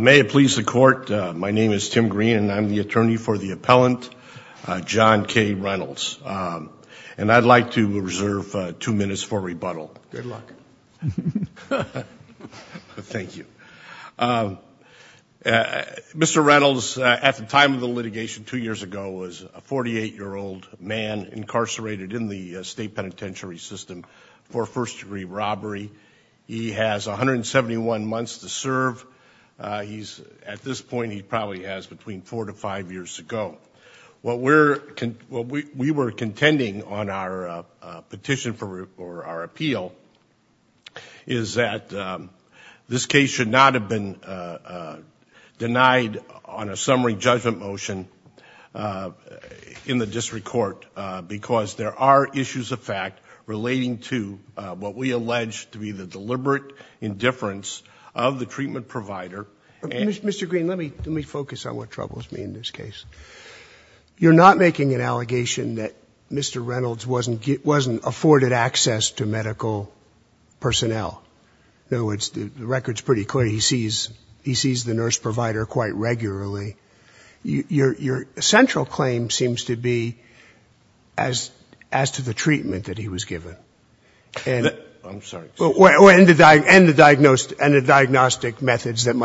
May it please the court, my name is Tim Green and I'm the attorney for the appellant John K Reynolds and I'd like to reserve two minutes for rebuttal. Good luck. Thank you. Mr. Reynolds at the time of the litigation two years ago was a 48 year old man incarcerated in the state penitentiary system for first degree robbery. He has 171 months to serve. He's at this point he probably has between four to five years to go. What we were contending on our petition for our appeal is that this case should not have been denied on a summary judgment motion in the district court because there are issues of fact relating to what we allege to be the deliberate indifference of the treatment provider. Mr. Green, let me focus on what troubles me in this case. You're not making an allegation that Mr. Reynolds wasn't afforded access to medical personnel. In other words, the record's pretty clear. He sees the nurse provider quite regularly. Your central claim seems to be as to the extent to which he was given. And the diagnostic methods that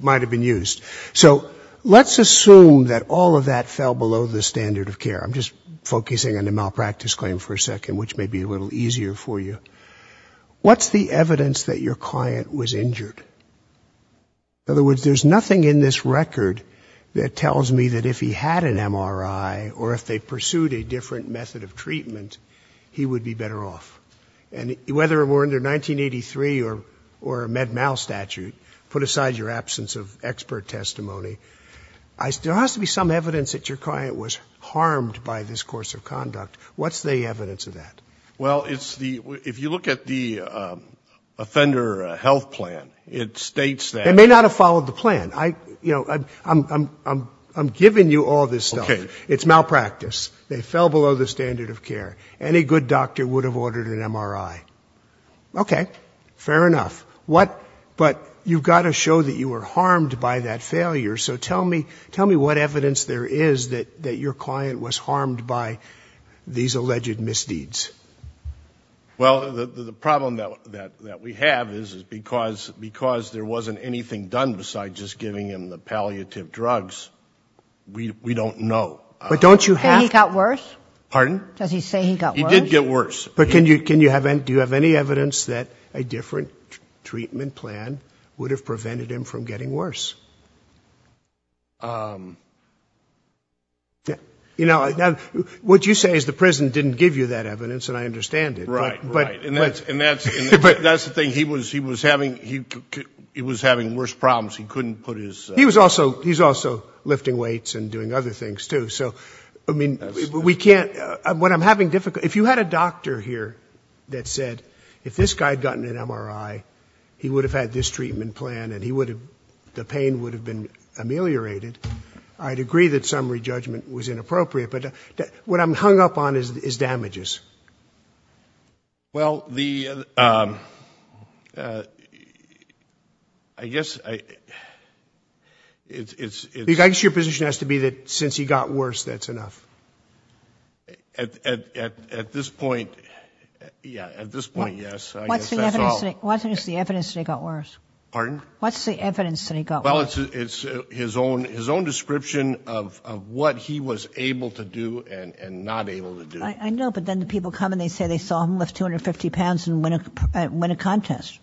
might have been used. So let's assume that all of that fell below the standard of care. I'm just focusing on the malpractice claim for a second, which may be a little easier for you. What's the evidence that your client was injured? In other words, there's nothing in this record that tells me that if he had an MRI or if they had an MRI, he would be better off. And whether it were under 1983 or a Med-Mal statute, put aside your absence of expert testimony, there has to be some evidence that your client was harmed by this course of conduct. What's the evidence of that? Well, it's the – if you look at the offender health plan, it states that – They may not have followed the plan. I'm giving you all this stuff. Okay. It's malpractice. They fell below the standard of care. Any good doctor would have ordered an MRI. Okay. Fair enough. What – but you've got to show that you were harmed by that failure. So tell me what evidence there is that your client was harmed by these alleged misdeeds. Well, the problem that we have is because there wasn't anything done besides just giving him the palliative drugs, we don't know. But don't you have – Did he say he got worse? Pardon? Does he say he got worse? He did get worse. But can you – do you have any evidence that a different treatment plan would have prevented him from getting worse? You know, what you say is the prison didn't give you that evidence, and I understand it. Right, right. And that's the thing. He was having worse problems. He couldn't put his – He was also – he's also lifting weights and doing other things, too. So, I mean, we can't – what I'm having difficulty – if you had a doctor here that said if this guy had gotten an MRI, he would have had this treatment plan and he would have – the pain would have been ameliorated, I'd agree that summary judgment was inappropriate. But what I'm hung up on is damages. Well, the – I guess I – it's – I guess your position has to be that since he got worse, that's enough. At this point, yeah. At this point, yes. I guess that's all. What's the evidence that he got worse? Pardon? What's the evidence that he got worse? Well, it's his own description of what he was able to do and not able to do. I know, but then the people come and they say they saw him lift 250 pounds and win a contest.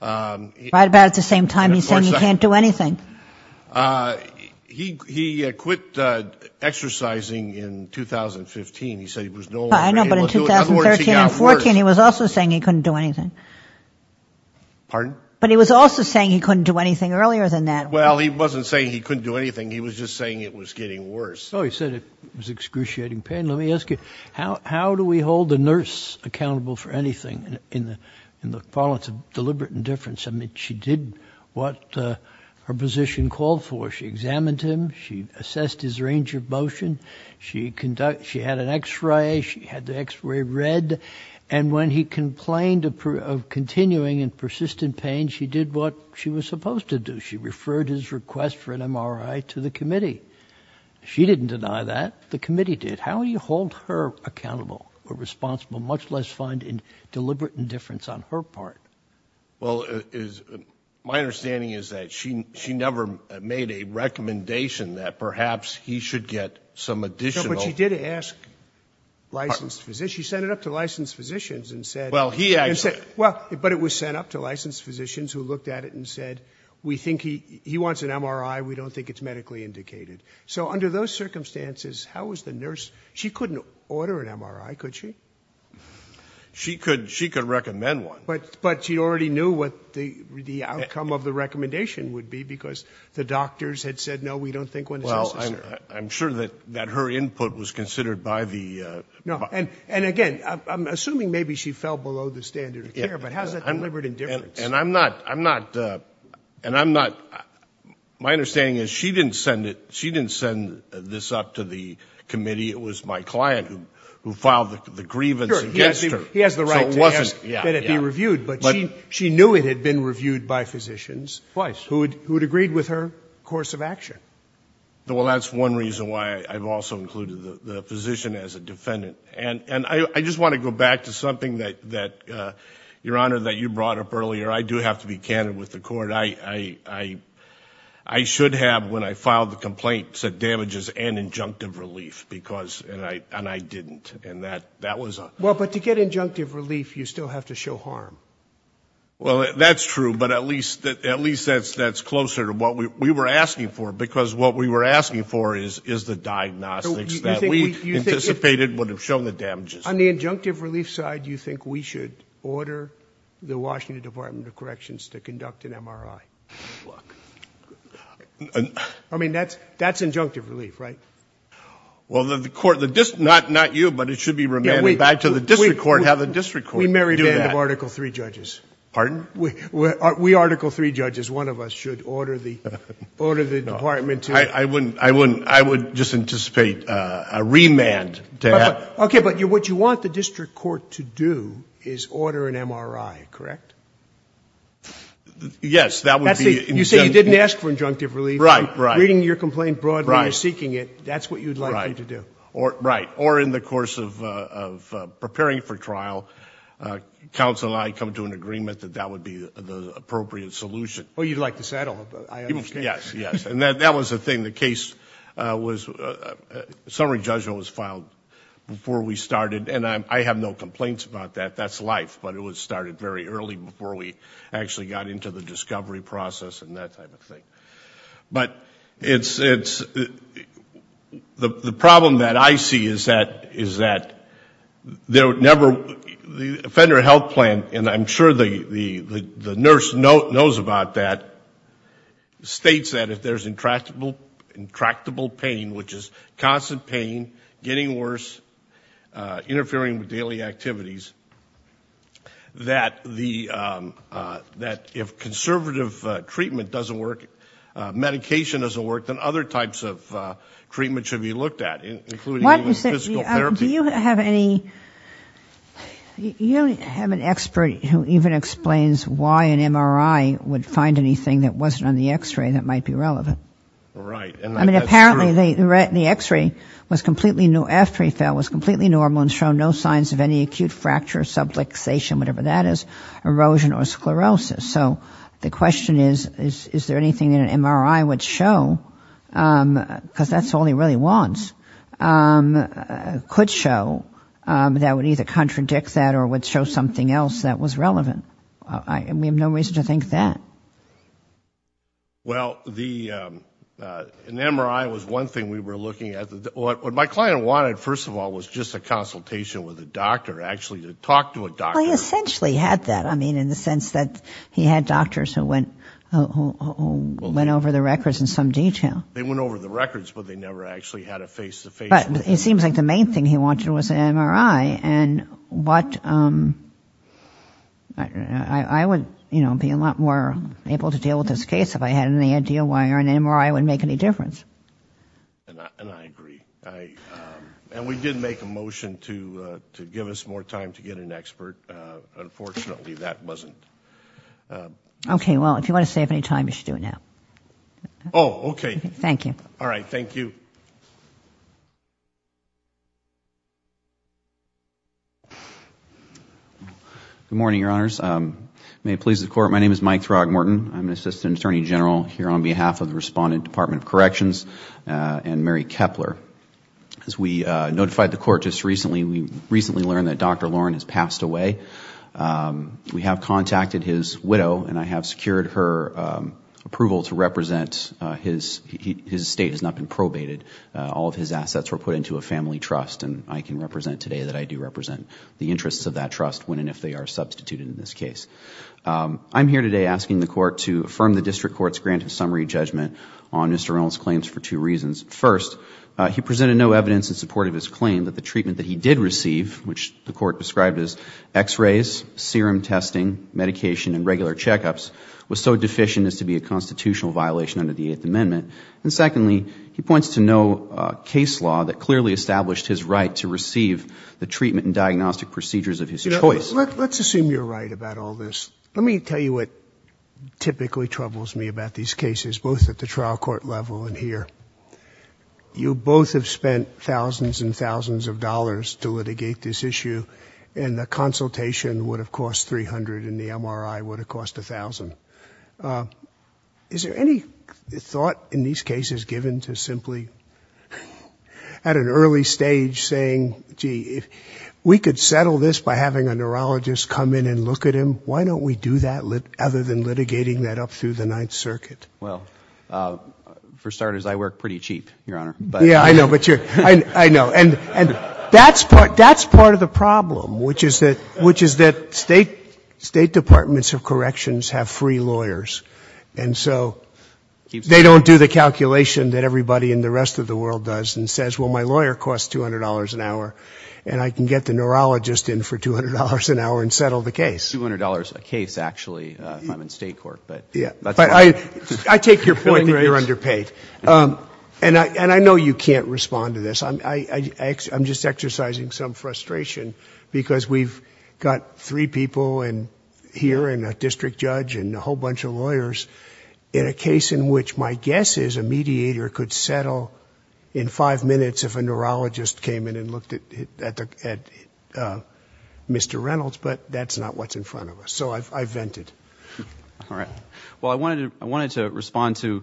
Right about at the same time, he said he can't do anything. He quit exercising in 2015. He said he was no longer able to do it. I know, but in 2013 and 14, he was also saying he couldn't do anything. Pardon? But he was also saying he couldn't do anything earlier than that. Well, he wasn't saying he couldn't do anything. He was just saying it was getting worse. Oh, he said it was excruciating pain. Let me ask you, how do we hold a nurse accountable for anything in the parlance of deliberate indifference? I mean, she did what her position called for. She examined him. She assessed his range of motion. She had an X-ray. She had the X-ray read. And when he complained of continuing and persistent pain, she did what she was supposed to do. She referred his request for an MRI to the committee. She didn't deny that. The committee did. How do you hold her accountable or responsible, much less find in deliberate indifference on her part? Well, my understanding is that she never made a recommendation that perhaps he should get some additional... But she did ask licensed physicians. She sent it up to licensed physicians and said... Well, he... Well, but it was sent up to licensed physicians who looked at it and said, we think he wants an MRI. We don't think it's medically indicated. So under those circumstances, how was the nurse... She couldn't order an MRI, could she? She could recommend one. But she already knew what the outcome of the recommendation would be because the doctors had said, no, we don't think one is necessary. Well, I'm sure that her input was considered by the... No, and again, I'm assuming maybe she fell below the standard of care, but how is that deliberate indifference? And I'm not... My understanding is she didn't send this up to the committee. It was my client who filed the grievance against her. He has the right to ask that it be reviewed, but she knew it had been reviewed by physicians who had agreed with her course of action. Well, that's one reason why I've also included the physician as a defendant. And I just want to go back to something that, Your Honor, that you brought up earlier. I do have to be candid with the court. I should have, when I filed the complaint, said damages and injunctive relief because... And I didn't. And that was... Well, but to get injunctive relief, you still have to show harm. Well, that's true, but at least that's closer to what we were asking for because what we were asking for is the diagnostics that we anticipated would have shown the damages. On the injunctive relief side, you think we should order the Washington Department of Corrections to conduct an MRI? Look... I mean, that's injunctive relief, right? Well, the court... Not you, but it should be remanded back to the district court and have the district court do that. We merry band of Article III judges. Pardon? We Article III judges, one of us, should order the department to... I wouldn't... I would just anticipate a remand to have... Okay, but what you want the district court to do is order an MRI, correct? Yes, that would be... You say you didn't ask for injunctive relief. Right, right. Reading your complaint broadly and seeking it, that's what you'd like them to do. Right. Or in the course of preparing for trial, counsel and I come to an agreement that that would be the appropriate solution. Oh, you'd like to settle. I understand. Yes, yes. And that was the thing. The case was... Before we started... And I have no complaints about that. That's life. But it was started very early before we actually got into the discovery process and that type of thing. But it's... The problem that I see is that there would never... The federal health plan, and I'm sure the nurse knows about that, states that if there's intractable pain, which is constant pain, getting worse, interfering with daily activities, that if conservative treatment doesn't work, medication doesn't work, then other types of treatment should be looked at, including physical therapy. Do you have any... You have an expert who even explains why an MRI would find anything that wasn't on the X-ray that might be relevant. Right. I mean, apparently the X-ray after he fell was completely normal and showed no signs of any acute fracture, subluxation, whatever that is, erosion or sclerosis. So the question is, is there anything that an MRI would show, because that's all he really wants, could show that would either contradict that or would show something else that was relevant. We have no reason to think that. Well, an MRI was one thing we were looking at. What my client wanted, first of all, was just a consultation with a doctor, actually to talk to a doctor. Well, he essentially had that, I mean, in the sense that he had doctors who went over the records in some detail. They went over the records, but they never actually had a face-to-face. But it seems like the main thing he wanted was an MRI, and I would be a lot more able to deal with this case if I had any idea why an MRI would make any difference. And I agree. And we did make a motion to give us more time to get an expert. Unfortunately, that wasn't... Okay, well, if you want to save any time, you should do it now. Oh, okay. Thank you. All right, thank you. Good morning, Your Honors. May it please the Court, my name is Mike Throgmorton. I'm an Assistant Attorney General here on behalf of the Respondent, Department of Corrections, and Mary Kepler. As we notified the Court just recently, we recently learned that Dr. Loren has passed away. We have contacted his widow, and I have secured her approval to represent his... his estate has not been probated. All of his assets were put into a family trust, and I can represent today that I do represent the interests of that trust when and if they are substituted in this case. I'm here today asking the Court to affirm the District Court's granted summary judgment on Mr. Reynolds' claims for two reasons. First, he presented no evidence in support of his claim that the treatment that he did receive, which the Court described as X-rays, serum testing, medication, and regular checkups, was so deficient as to be a constitutional violation under the Eighth Amendment. And secondly, he points to no case law that clearly established his right to receive the treatment and diagnostic procedures of his choice. Let's assume you're right about all this. Let me tell you what typically troubles me about these cases, both at the trial court level and here. You both have spent thousands and thousands of dollars to litigate this issue, and the consultation would have cost $300 and the MRI would have cost $1,000. Is there any thought in these cases given to simply, at an early stage, saying, gee, if we could settle this by having a neurologist come in and look at him, why don't we do that other than litigating that up through the Ninth Circuit? Well, for starters, I work pretty cheap, Your Honor. Yeah, I know. And that's part of the problem, which is that State Departments of Corrections have free lawyers, and so they don't do the calculation that everybody in the rest of the world does and says, well, my lawyer costs $200 an hour and I can get the neurologist in for $200 an hour and settle the case. $200 a case, actually, if I'm in state court. I take your point that you're underpaid. And I know you can't respond to this. I'm just exercising some frustration because we've got three people here and a district judge and a whole bunch of lawyers in a case in which my guess is a mediator could settle in five minutes if a neurologist came in and looked at Mr. Reynolds, but that's not what's in front of us. So I've vented. Well, I wanted to respond to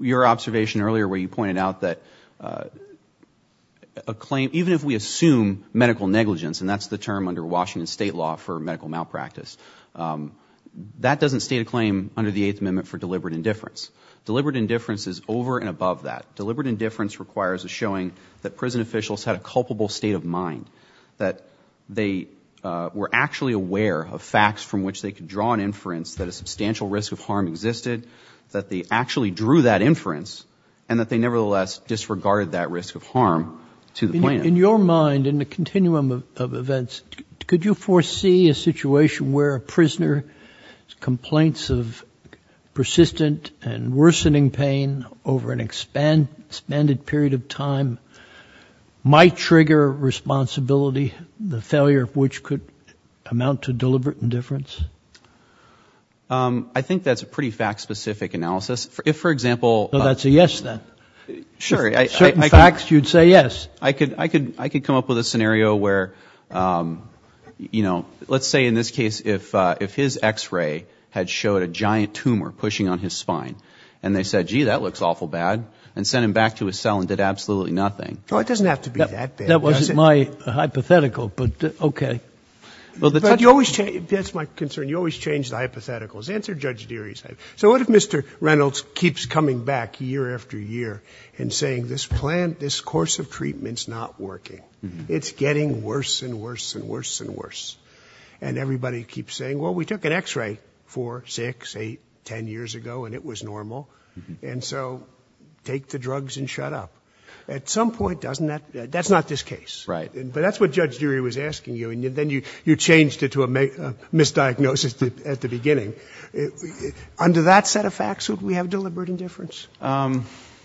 your observation earlier where you pointed out that even if we assume medical negligence, and that's the term under Washington state law for medical malpractice, that doesn't state a claim under the Eighth Amendment for deliberate indifference. Deliberate indifference is over and above that. Deliberate indifference requires a showing that prison officials had a culpable state of mind that they were actually aware of facts from which they could draw an inference that a substantial risk of harm existed, that they actually drew that inference and that they nevertheless disregarded that risk of harm to the plaintiff. In your mind, in the continuum of events, could you foresee a situation where a prisoner with complaints of persistent and worsening pain over an expanded period of time might trigger responsibility, the failure of which could amount to deliberate indifference? I think that's a pretty fact-specific analysis. If, for example... So that's a yes, then? Sure. I could come up with a scenario where, you know, let's say in this case if his X-ray had showed a giant tumor pushing on his spine and they said, gee, that looks awful bad and sent him back to his cell and did absolutely nothing. Oh, it doesn't have to be that bad. That wasn't my hypothetical, but okay. That's my concern. You always change the hypotheticals. So what if Mr Reynolds keeps coming back year after year and saying this course of treatment's not working? It's getting worse and worse and worse and worse. And everybody keeps saying, well, we took an X-ray 4, 6, 8, 10 years ago and it was normal, and so take the drugs and shut up. At some point, that's not this case. But that's what Judge Durie was asking you and then you changed it to a misdiagnosis at the beginning. Under that set of facts, would we have deliberate indifference?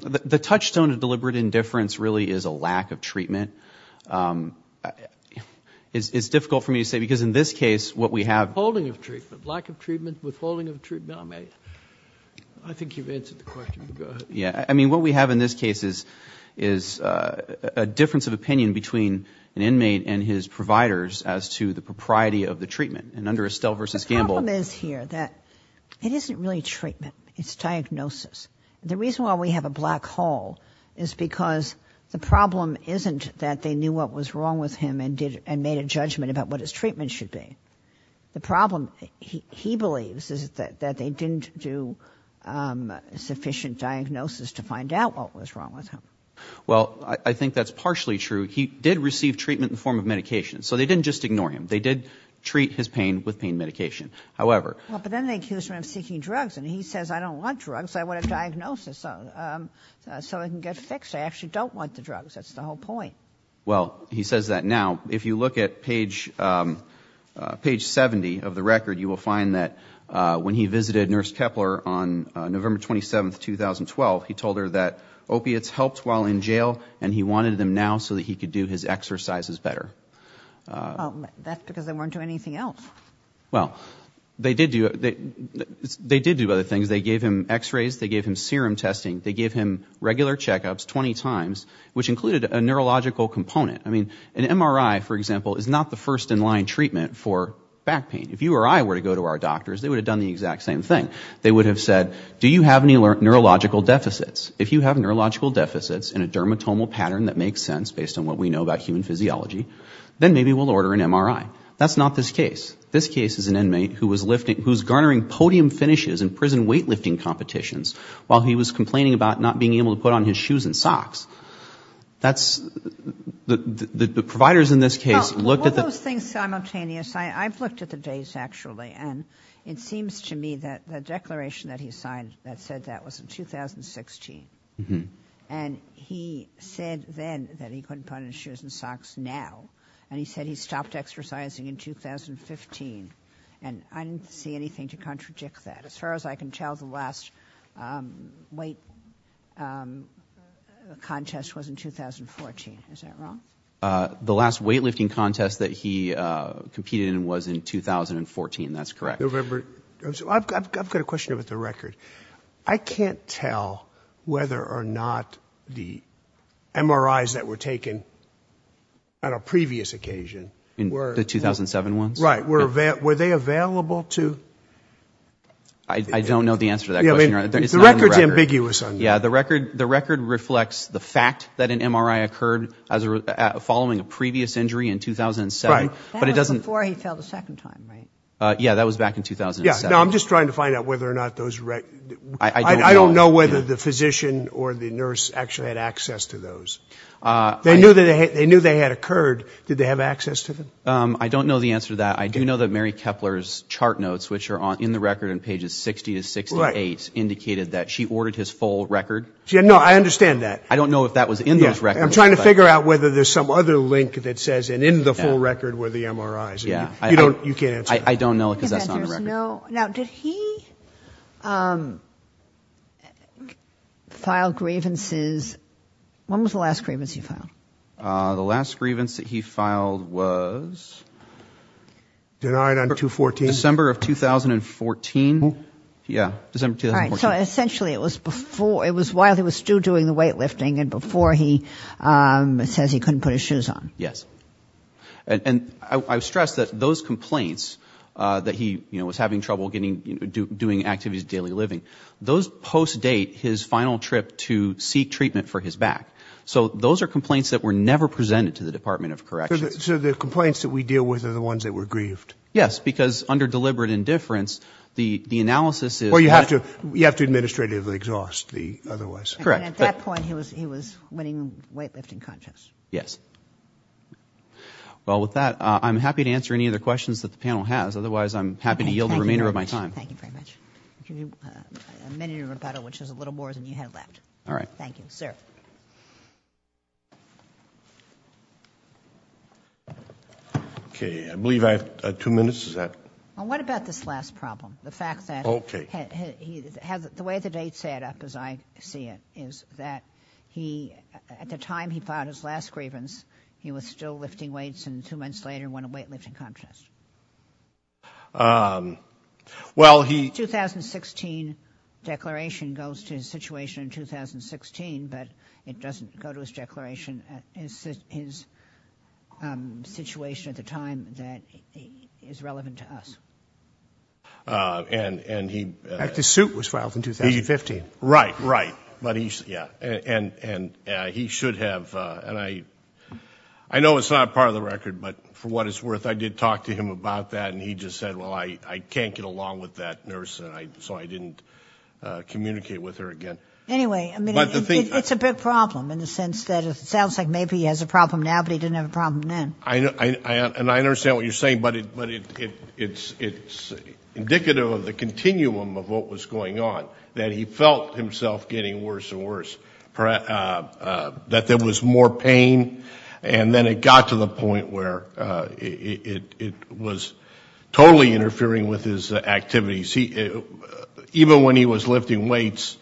The touchstone of deliberate indifference really is a lack of treatment. It's difficult for me to say because in this case what we have... Withholding of treatment, lack of treatment, withholding of treatment. I think you've answered the question. Go ahead. I mean, what we have in this case is a difference of opinion between an inmate and his providers as to the propriety of the treatment. And under Estelle v. Gamble... The problem is here that it isn't really treatment. It's diagnosis. The reason why we have a black hole is because the problem isn't that they knew what was wrong with him and made a judgment about what his treatment should be. The problem, he believes, is that they didn't do sufficient diagnosis to find out what was wrong with him. Well, I think that's partially true. He did receive treatment in the form of medication, so they didn't just ignore him. They did treat his pain with pain medication. But then they accused him of seeking drugs and he says, I don't want drugs, I want a diagnosis so I can get fixed. I actually don't want the drugs. That's the whole point. Well, he says that now. If you look at page 70 of the record, you will find that when he visited Nurse Kepler on November 27, 2012, he told her that opiates helped while in jail and he wanted them now so that he could do his exercises better. That's because they weren't doing anything else. Well, they did do other things. They gave him x-rays, they gave him serum testing, they gave him regular check-ups 20 times which included a neurological component. An MRI, for example, is not the first in-line treatment for back pain. If you or I were to go to our doctors, they would have done the exact same thing. They would have said, do you have any neurological deficits? If you have neurological deficits in a dermatomal pattern that makes sense based on what we know about human physiology, then maybe we'll order an MRI. That's not this case. This case is an inmate who's garnering podium finishes in prison weightlifting competitions while he was complaining about not being able to put on his shoes and socks. The providers in this case looked at the... Well, those things are simultaneous. I've looked at the days actually and it seems to me that the declaration that he signed that said that was in 2016 and he said then that he couldn't put on his shoes and socks now and he said he stopped exercising in 2015 and I didn't see anything to contradict that as far as I can tell, the last weight contest was in 2014. Is that wrong? The last weightlifting contest that he competed in was in 2014. That's correct. I've got a question about the record. I can't tell whether or not the MRIs that were taken on a previous occasion... The 2007 ones? Right. Were they available to... I don't know the answer to that question. The record's ambiguous on that. The record reflects the fact that an MRI occurred following a previous injury in 2007. That was before he fell the second time, right? Yeah, that was back in 2007. I don't know whether the physician or the nurse actually had access to those. They knew they had occurred. Did they have access to them? I don't know the answer to that. I do know that Mary Kepler's chart notes, which are in the record in pages 60 to 68, indicated that she ordered his full record. No, I understand that. I don't know if that was in those records. I'm trying to figure out whether there's some other link that says, and in the full record were the MRIs. You can't answer that. Now, did he file grievances... When was the last grievance he filed? The last grievance that he filed was... Denied on 2014? December of 2014. Essentially, it was while he was still doing the weightlifting and before he says he couldn't put his shoes on. Yes. And I stress that those complaints that he was having trouble doing activities of daily living, those post-date his final trip to seek treatment for his back. So those are complaints that were never presented to the Department of Corrections. So the complaints that we deal with are the ones that were grieved? Yes, because under deliberate indifference, the analysis is... Or you have to administratively exhaust the otherwise. Correct. And at that point, he was winning weightlifting contests. Yes. Well, with that, I'm happy to answer any other questions that the panel has. Otherwise, I'm happy to yield the remainder of my time. Thank you very much. A minute of rebuttal, which is a little more than you had left. All right. Thank you. Okay. I believe I have 2 minutes. What about this last problem? The way the dates add up as I see it, is that at the time he filed his last grievance, he was still lifting weights, and 2 months later, he won a weightlifting contest. Well, he... The 2016 declaration goes to his situation in 2016, but it doesn't go to his declaration at his situation at the time that is relevant to us. In fact, his suit was filed in 2015. Right, right. And he should have... I know it's not a part of the record, but for what it's worth, I did talk to him about that, and he just said, well, I can't get along with that nurse, so I didn't communicate with her again. Anyway, it's a big problem in the sense that it sounds like maybe he has a problem now, but he didn't have a problem then. And I understand what you're saying, but it's indicative of the continuum of what was going on that he felt himself getting worse and worse, that there was more pain, and then it got to the point where it was totally interfering with his activities. Even when he was lifting weights,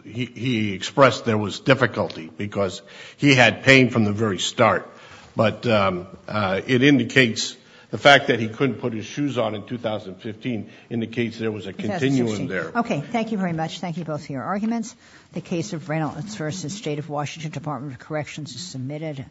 he expressed there was difficulty because he had pain from the very start. But it indicates... The fact that he couldn't put his shoes on in 2015 indicates there was a continuum there. Okay, thank you very much. Thank you both for your arguments. The case of Reynolds v. State of Washington Department of Corrections is submitted.